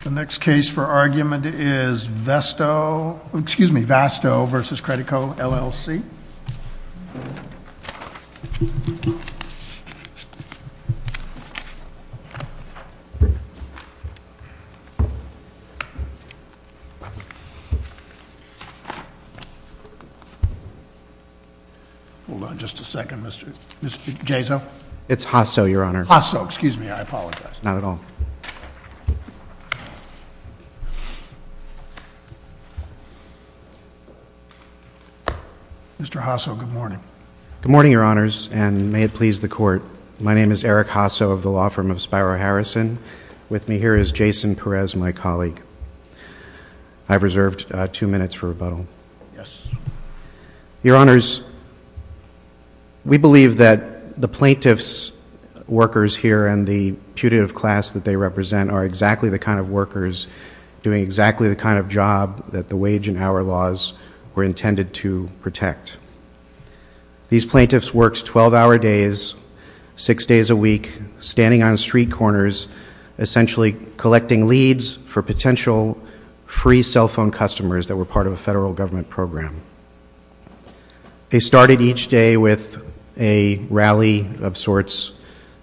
The next case for argument is Vasto v. Credico, LLC. Hold on just a second, Mr. Jaso. It's Hasso, Your Honor. Hasso, excuse me, I apologize. Not at all. Mr. Hasso, good morning. Good morning, Your Honors, and may it please the Court. My name is Eric Hasso of the law firm of Spiro Harrison. With me here is Jason Perez, my colleague. I've reserved two minutes for rebuttal. Yes. Your Honors, we believe that the plaintiff's workers here and the putative class that they represent are exactly the kind of workers doing exactly the kind of job that the wage and hour laws were intended to protect. These plaintiffs worked 12-hour days, six days a week, standing on street corners, essentially collecting leads for potential free cell phone customers that were part of a federal government program. They started each day with a rally of sorts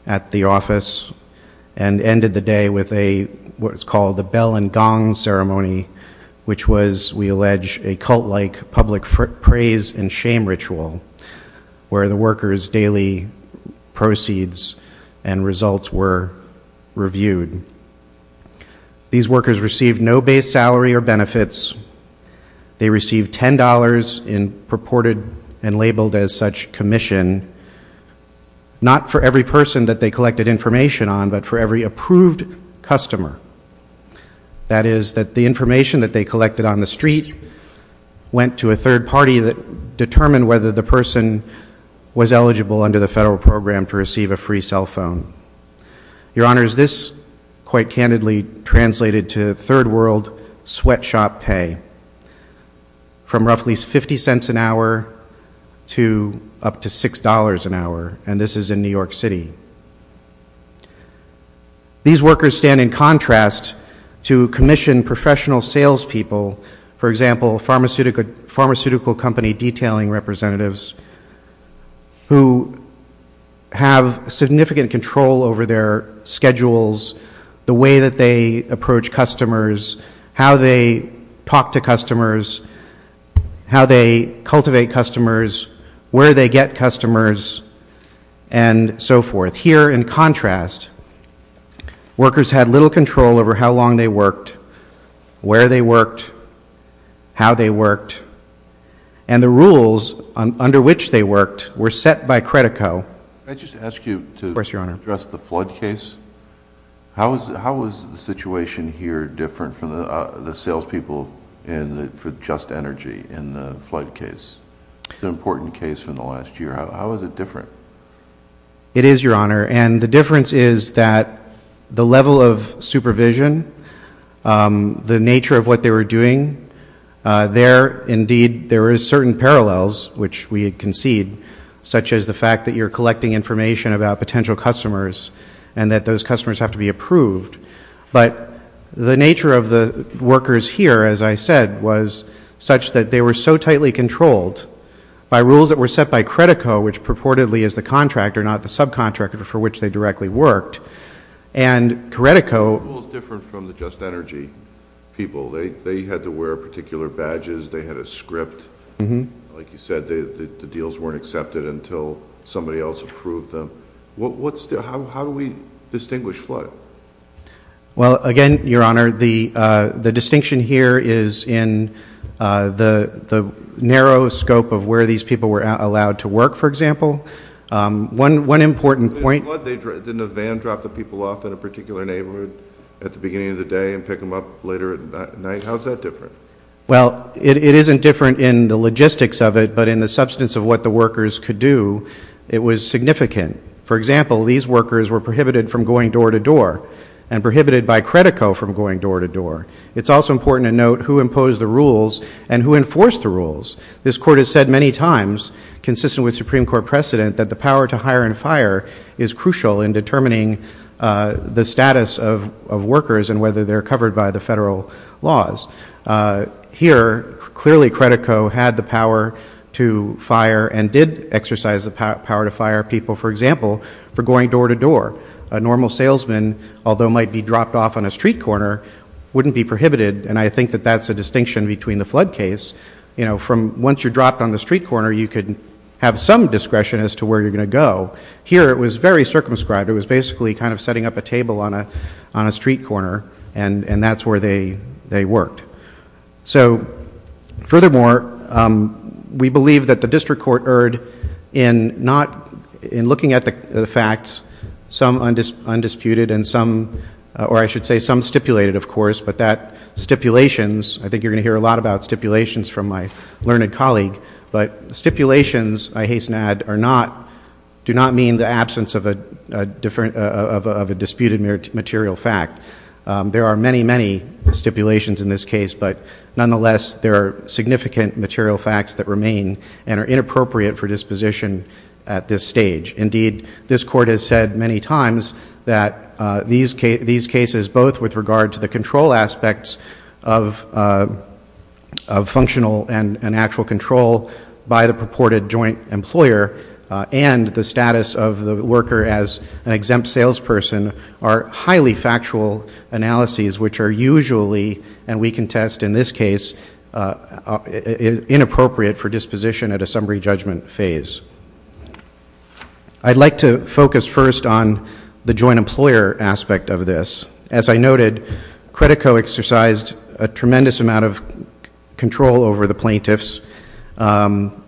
at the office and ended the day with what's called a bell and gong ceremony, which was, we allege, a cult-like public praise and shame ritual where the workers' daily proceeds and results were reviewed. These workers received no base salary or benefits. They received $10 in purported and labeled as such commission, not for every person that they collected information on but for every approved customer. That is, that the information that they collected on the street went to a third party that determined whether the person was eligible under the federal program to receive a free cell phone. Your Honor, this quite candidly translated to third world sweatshop pay from roughly 50 cents an hour to up to $6 an hour, and this is in New York City. These workers stand in contrast to commission professional salespeople, for example, pharmaceutical company detailing representatives who have significant control over their schedules, the way that they approach customers, how they talk to customers, how they cultivate customers, where they get customers, and so forth. Here, in contrast, workers had little control over how long they worked, where they worked, how they worked, and the rules under which they worked were set by Credico. Can I just ask you to address the flood case? How is the situation here different from the salespeople for Just Energy in the flood case? It's an important case from the last year. How is it different? It is, Your Honor, and the difference is that the level of supervision, the nature of what they were doing, there, indeed, there is certain parallels, which we concede, such as the fact that you're collecting information about potential customers and that those customers have to be approved, but the nature of the workers here, as I said, was such that they were so tightly controlled by rules that were set by Credico, which purportedly is the contractor, not the subcontractor for which they directly worked, and Credico The rules are different from the Just Energy people. They had to wear particular badges. They had a script. Like you said, the deals weren't accepted until somebody else approved them. How do we distinguish flood? Well, again, Your Honor, the distinction here is in the narrow scope of where these people were allowed to work, for example. One important point Didn't a van drop the people off in a particular neighborhood at the beginning of the day and pick them up later at night? How is that different? Well, it isn't different in the logistics of it, but in the substance of what the workers could do, it was significant. For example, these workers were prohibited from going door to door and prohibited by Credico from going door to door. It's also important to note who imposed the rules and who enforced the rules. This Court has said many times, consistent with Supreme Court precedent, that the power to hire and fire is crucial in determining the status of workers and whether they're covered by the federal laws. Here, clearly Credico had the power to fire and did exercise the power to fire people, for example, for going door to door. A normal salesman, although might be dropped off on a street corner, wouldn't be prohibited, and I think that that's a distinction between the flood case. Once you're dropped on the street corner, you could have some discretion as to where you're going to go. Here, it was very circumscribed. It was basically kind of setting up a table on a street corner, and that's where they worked. So furthermore, we believe that the district court erred in looking at the facts, some undisputed and some, or I should say some stipulated, of course, but that stipulations, I think you're going to hear a lot about stipulations from my learned colleague, but stipulations, I hasten to add, do not mean the absence of a disputed material fact. There are many, many stipulations in this case, but nonetheless there are significant material facts that remain and are inappropriate for disposition at this stage. Indeed, this Court has said many times that these cases, both with regard to the control aspects of functional and actual control by the purported joint employer and the status of the worker as an exempt salesperson are highly factual analyses, which are usually, and we contest in this case, inappropriate for disposition at a summary judgment phase. I'd like to focus first on the joint employer aspect of this. As I noted, Credico exercised a tremendous amount of control over the plaintiffs. One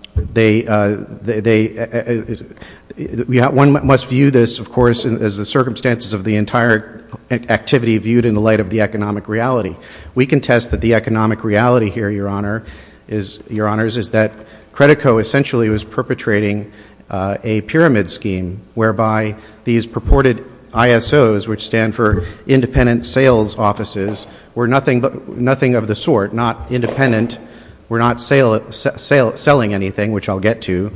must view this, of course, as the circumstances of the entire activity viewed in the light of the economic reality. We contest that the economic reality here, Your Honor, is that Credico essentially was perpetrating a pyramid scheme, whereby these purported ISOs, which stand for independent sales offices, were nothing of the sort, not independent, were not selling anything, which I'll get to,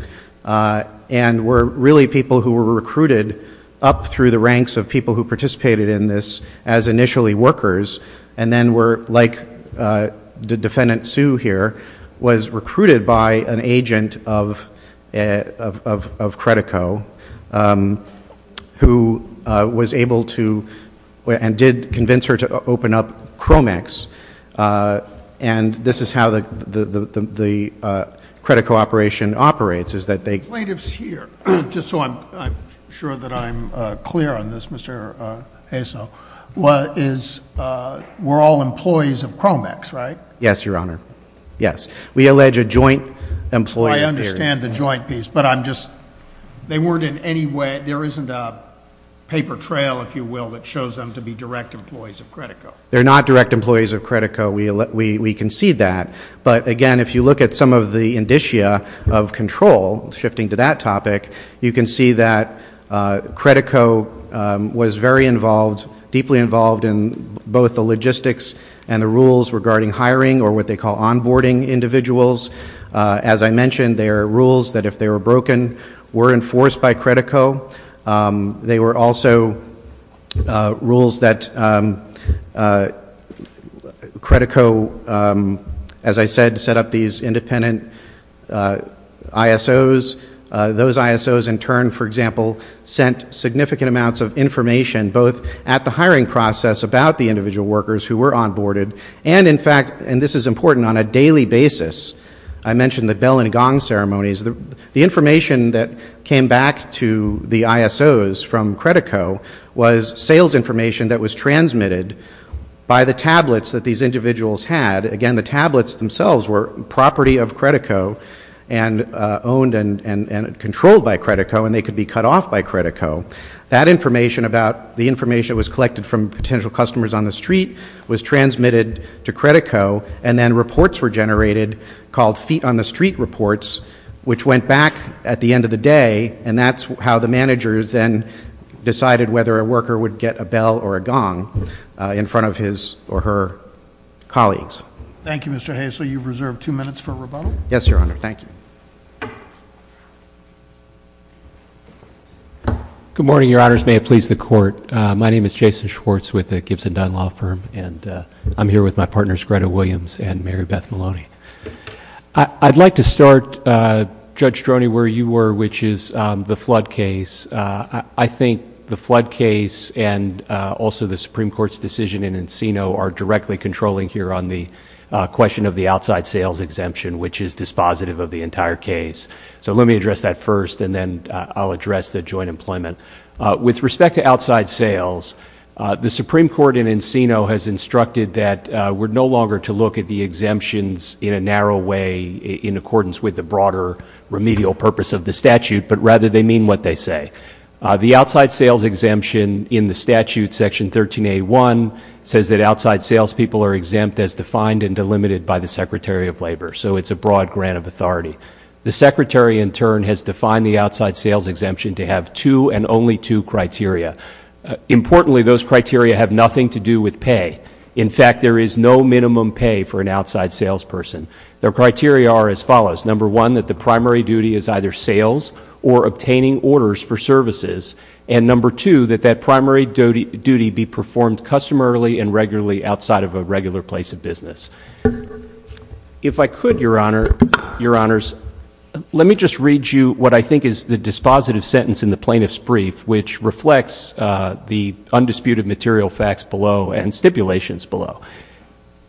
and were really people who were recruited up through the ranks of people who participated in this as initially workers, and then were, like the defendant, Sue, here, was recruited by an agent of Credico, who was able to and did convince her to open up Cromex. And this is how the Credico operation operates, is that they — Plaintiffs here, just so I'm sure that I'm clear on this, Mr. Hasel, were all employees of Cromex, right? Yes, Your Honor. Yes. We allege a joint employee theory. I understand the joint piece, but I'm just — they weren't in any way — there isn't a paper trail, if you will, that shows them to be direct employees of Credico. They're not direct employees of Credico. We concede that. But, again, if you look at some of the indicia of control, shifting to that topic, you can see that Credico was very involved, deeply involved in both the logistics and the rules regarding hiring or what they call onboarding individuals. As I mentioned, there are rules that if they were broken, were enforced by Credico. They were also rules that Credico, as I said, set up these independent ISOs. Those ISOs, in turn, for example, sent significant amounts of information both at the hiring process about the individual workers who were onboarded and, in fact — and this is important — on a daily basis. I mentioned the bell and gong ceremonies. The information that came back to the ISOs from Credico was sales information that was transmitted by the tablets that these individuals had. Again, the tablets themselves were property of Credico and owned and controlled by Credico, and they could be cut off by Credico. That information about the information that was collected from potential customers on the street was transmitted to Credico, and then reports were generated called feet-on-the-street reports, which went back at the end of the day, and that's how the managers then decided whether a worker would get a bell or a gong in front of his or her colleagues. Thank you, Mr. Hasley. You've reserved two minutes for rebuttal. Yes, Your Honor. Thank you. Good morning, Your Honors. May it please the Court. My name is Jason Schwartz with the Gibson Dunn Law Firm, and I'm here with my partners Greta Williams and Mary Beth Maloney. I'd like to start, Judge Stroni, where you were, which is the flood case. I think the flood case and also the Supreme Court's decision in Encino are directly controlling here on the question of the outside sales exemption, which is dispositive of the entire case. So let me address that first, and then I'll address the joint employment. With respect to outside sales, the Supreme Court in Encino has instructed that we're no longer to look at the exemptions in a narrow way in accordance with the broader remedial purpose of the statute, but rather they mean what they say. The outside sales exemption in the statute, Section 13A.1, says that outside salespeople are exempt as defined and delimited by the Secretary of Labor. So it's a broad grant of authority. The Secretary, in turn, has defined the outside sales exemption to have two and only two criteria. Importantly, those criteria have nothing to do with pay. In fact, there is no minimum pay for an outside salesperson. Their criteria are as follows. Number one, that the primary duty is either sales or obtaining orders for services. And number two, that that primary duty be performed customarily and regularly outside of a regular place of business. If I could, Your Honor, Your Honors, let me just read you what I think is the dispositive sentence in the plaintiff's brief, which reflects the undisputed material facts below and stipulations below.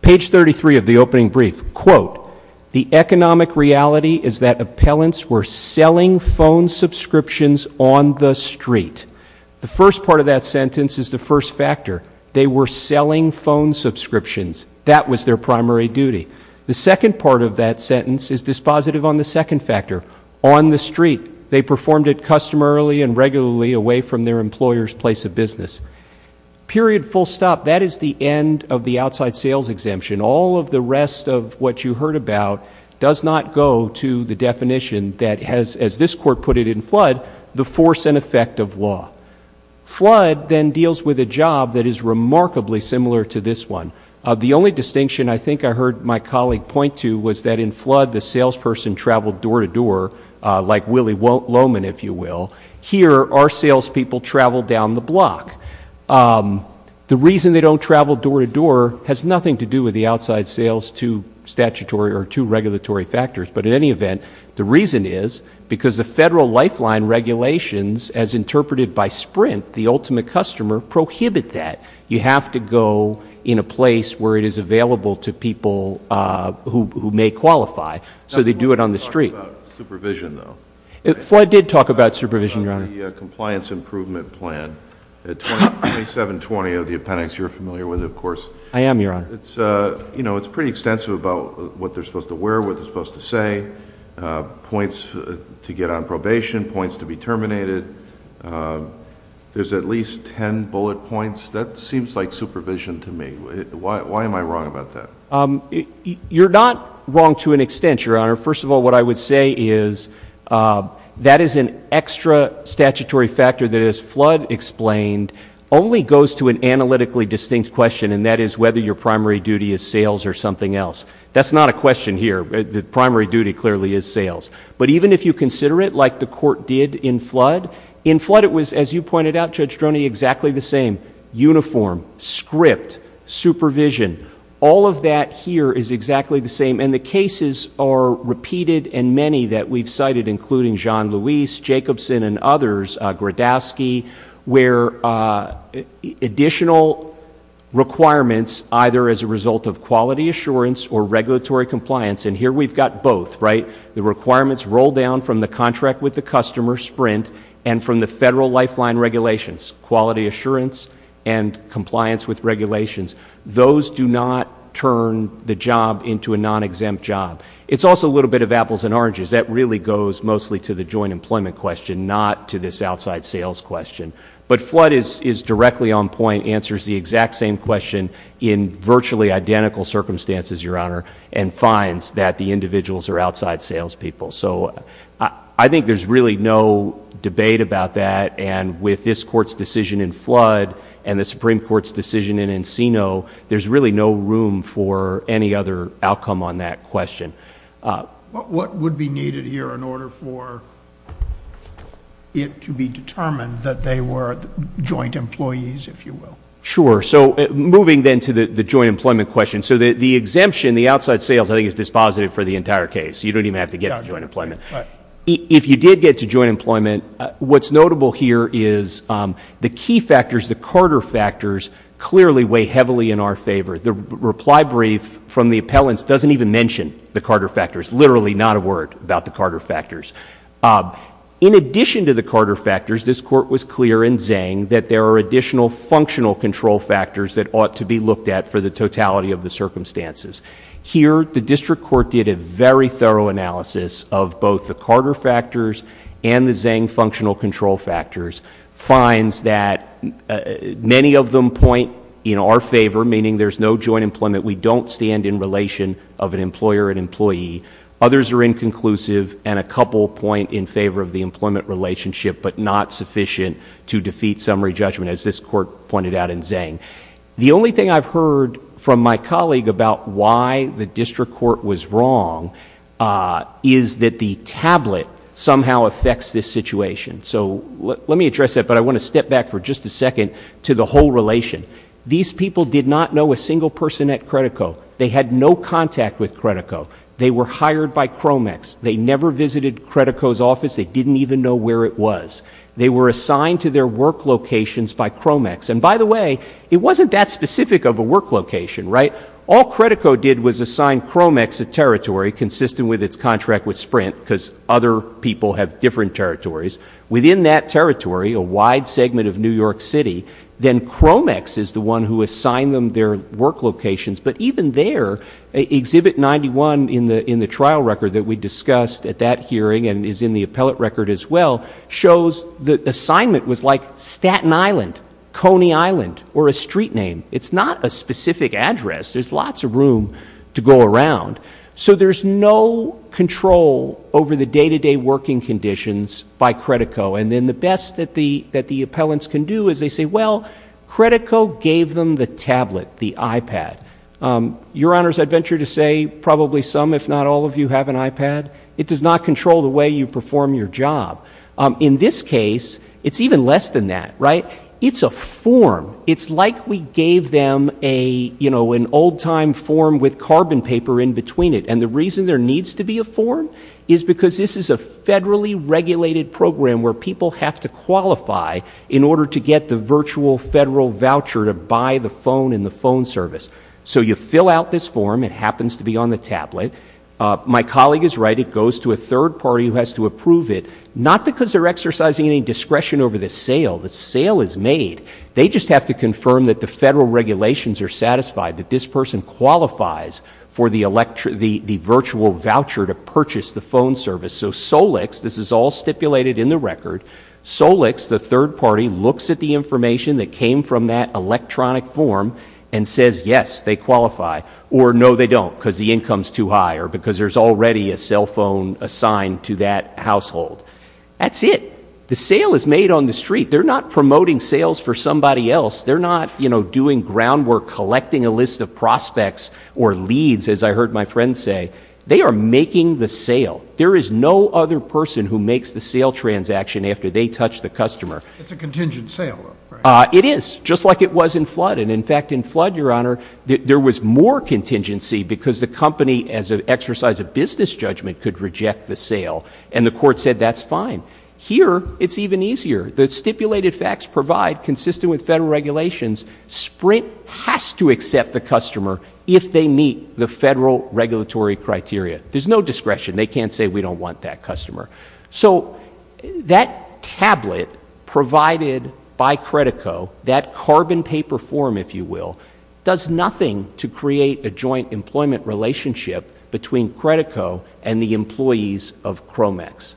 Page 33 of the opening brief, quote, the economic reality is that appellants were selling phone subscriptions on the street. The first part of that sentence is the first factor. They were selling phone subscriptions. That was their primary duty. The second part of that sentence is dispositive on the second factor. On the street, they performed it customarily and regularly away from their employer's place of business. Period, full stop. That is the end of the outside sales exemption. All of the rest of what you heard about does not go to the definition that has, as this Court put it in Flood, the force and effect of law. Flood then deals with a job that is remarkably similar to this one. The only distinction I think I heard my colleague point to was that in Flood, the salesperson traveled door-to-door, like Willie Loman, if you will. Here, our salespeople travel down the block. The reason they don't travel door-to-door has nothing to do with the outside sales to statutory or to regulatory factors. But in any event, the reason is because the federal lifeline regulations, as interpreted by Sprint, the ultimate customer, prohibit that. You have to go in a place where it is available to people who may qualify. So they do it on the street. Flood did talk about supervision, Your Honor. The compliance improvement plan, 2720 of the appendix you're familiar with, of course. I am, Your Honor. It's pretty extensive about what they're supposed to wear, what they're supposed to say, points to get on probation, points to be terminated. There's at least ten bullet points. That seems like supervision to me. Why am I wrong about that? You're not wrong to an extent, Your Honor. First of all, what I would say is that is an extra statutory factor that, as Flood explained, only goes to an analytically distinct question, and that is whether your primary duty is sales or something else. That's not a question here. The primary duty clearly is sales. But even if you consider it like the court did in Flood, in Flood it was, as you pointed out, Judge Droney, exactly the same. Uniform, script, supervision, all of that here is exactly the same. And the cases are repeated in many that we've cited, including Jean-Louis, Jacobson, and others, Grodowski, where additional requirements either as a result of quality assurance or regulatory compliance, and here we've got both, right? The requirements roll down from the contract with the customer, Sprint, and from the federal lifeline regulations, quality assurance and compliance with regulations. Those do not turn the job into a non-exempt job. It's also a little bit of apples and oranges. That really goes mostly to the joint employment question, not to this outside sales question. But Flood is directly on point, answers the exact same question in virtually identical circumstances, Your Honor, and finds that the individuals are outside salespeople. So I think there's really no debate about that. And with this Court's decision in Flood and the Supreme Court's decision in Encino, there's really no room for any other outcome on that question. What would be needed here in order for it to be determined that they were joint employees, if you will? Sure. So moving then to the joint employment question. So the exemption, the outside sales, I think is dispositive for the entire case. You don't even have to get to joint employment. Right. If you did get to joint employment, what's notable here is the key factors, the Carter factors, clearly weigh heavily in our favor. The reply brief from the appellants doesn't even mention the Carter factors, literally not a word about the Carter factors. In addition to the Carter factors, this Court was clear in Zhang that there are additional functional control factors that ought to be looked at for the totality of the circumstances. Here, the District Court did a very thorough analysis of both the Carter factors and the Zhang functional control factors, finds that many of them point in our favor, meaning there's no joint employment, we don't stand in relation of an employer and employee. Others are inconclusive, and a couple point in favor of the employment relationship, but not sufficient to defeat summary judgment, as this Court pointed out in Zhang. The only thing I've heard from my colleague about why the District Court was wrong is that the tablet somehow affects this situation. So let me address that, but I want to step back for just a second to the whole relation. These people did not know a single person at Credico. They had no contact with Credico. They were hired by Cromex. They never visited Credico's office. They didn't even know where it was. They were assigned to their work locations by Cromex. And by the way, it wasn't that specific of a work location, right? All Credico did was assign Cromex a territory consistent with its contract with Sprint, because other people have different territories. Within that territory, a wide segment of New York City, then Cromex is the one who assigned them their work locations. But even there, Exhibit 91 in the trial record that we discussed at that hearing, and is in the appellate record as well, shows the assignment was like Staten Island, Coney Island, or a street name. It's not a specific address. There's lots of room to go around. So there's no control over the day-to-day working conditions by Credico. And then the best that the appellants can do is they say, well, Credico gave them the tablet, the iPad. Your Honors, I'd venture to say probably some, if not all, of you have an iPad. It does not control the way you perform your job. In this case, it's even less than that, right? It's a form. It's like we gave them a, you know, an old-time form with carbon paper in between it. And the reason there needs to be a form is because this is a federally regulated program where people have to qualify in order to get the virtual federal voucher to buy the phone and the phone service. So you fill out this form. It happens to be on the tablet. My colleague is right. It goes to a third party who has to approve it, not because they're exercising any discretion over the sale. The sale is made. They just have to confirm that the federal regulations are satisfied, that this person qualifies for the virtual voucher to purchase the phone service. So Solix, this is all stipulated in the record, Solix, the third party, looks at the information that came from that electronic form and says, yes, they qualify. Or, no, they don't because the income's too high or because there's already a cell phone assigned to that household. That's it. The sale is made on the street. They're not promoting sales for somebody else. They're not, you know, doing groundwork, collecting a list of prospects or leads, as I heard my friend say. They are making the sale. There is no other person who makes the sale transaction after they touch the customer. It's a contingent sale, though, right? It is, just like it was in flood. And, in fact, in flood, Your Honor, there was more contingency because the company, as an exercise of business judgment, could reject the sale, and the court said that's fine. Here, it's even easier. The stipulated facts provide, consistent with federal regulations, Sprint has to accept the customer if they meet the federal regulatory criteria. There's no discretion. They can't say we don't want that customer. So that tablet provided by Credico, that carbon paper form, if you will, does nothing to create a joint employment relationship between Credico and the employees of Cromex.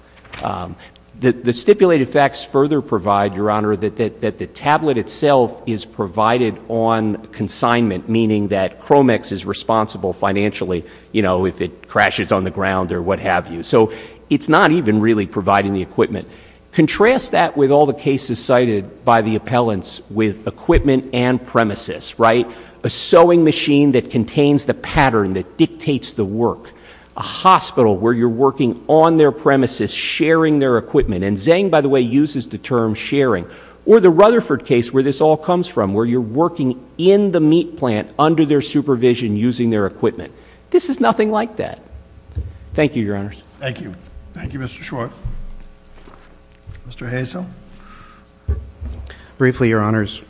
The stipulated facts further provide, Your Honor, that the tablet itself is provided on consignment, meaning that Cromex is responsible financially, you know, if it crashes on the ground or what have you. So it's not even really providing the equipment. Contrast that with all the cases cited by the appellants with equipment and premises, right? A sewing machine that contains the pattern that dictates the work, a hospital where you're working on their premises, sharing their equipment, and Zhang, by the way, uses the term sharing, or the Rutherford case where this all comes from, where you're working in the meat plant under their supervision, using their equipment. This is nothing like that. Thank you, Your Honors. Thank you. Thank you, Mr. Schwartz. Mr. Hazel. Briefly, Your Honors,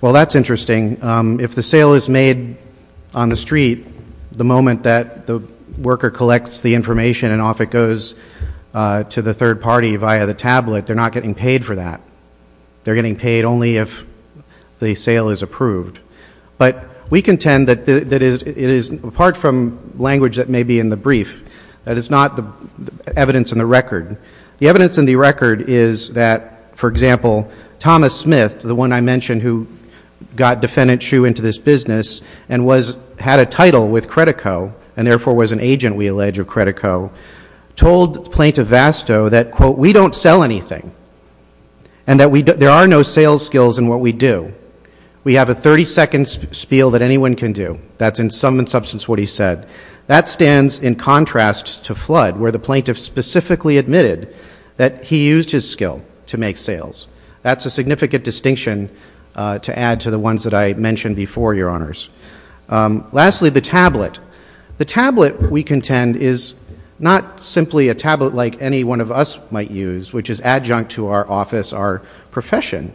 while that's interesting, if the sale is made on the street, the moment that the worker collects the information and off it goes to the third party via the tablet, they're not getting paid for that. They're getting paid only if the sale is approved. But we contend that it is, apart from language that may be in the brief, that it's not the evidence in the record. The evidence in the record is that, for example, Thomas Smith, the one I mentioned who got Defendant Hsu into this business and had a title with Credico and therefore was an agent, we allege, of Credico, told Plaintiff Vasto that, quote, we don't sell anything and that there are no sales skills in what we do. We have a 30-second spiel that anyone can do. That's in sum and substance what he said. That stands in contrast to FLUDD where the plaintiff specifically admitted that he used his skill to make sales. That's a significant distinction to add to the ones that I mentioned before, Your Honors. Lastly, the tablet. The tablet, we contend, is not simply a tablet like any one of us might use, which is adjunct to our office, our profession.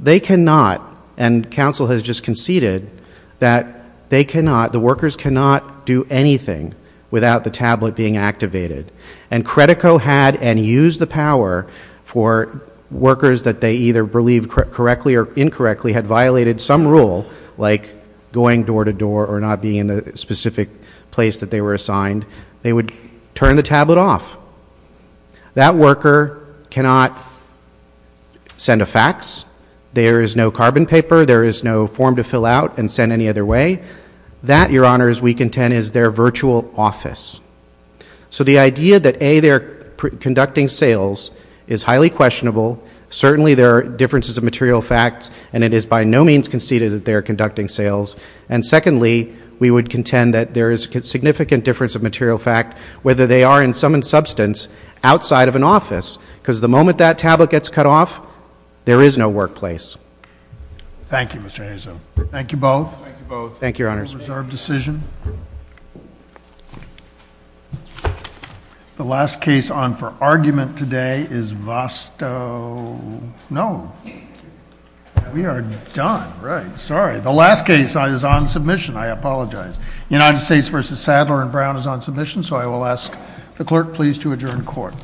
They cannot, and counsel has just conceded, that they cannot, the workers cannot do anything without the tablet being activated. And Credico had and used the power for workers that they either believed correctly or incorrectly had violated some rule, like going door to door or not being in the specific place that they were assigned, they would turn the tablet off. That worker cannot send a fax. There is no carbon paper. There is no form to fill out and send any other way. That, Your Honors, we contend is their virtual office. So the idea that, A, they're conducting sales is highly questionable. Certainly there are differences of material facts, and it is by no means conceded that they are conducting sales. And secondly, we would contend that there is a significant difference of material fact, whether they are in sum and substance, outside of an office, because the moment that tablet gets cut off, there is no workplace. Thank you, Mr. Anderson. Thank you both. Thank you both. Thank you, Your Honors. Reserved decision. The last case on for argument today is Vosto. No. We are done. Right. Sorry. The last case is on submission. I apologize. United States v. Sadler and Brown is on submission, so I will ask the clerk please to adjourn court. The court is adjourned.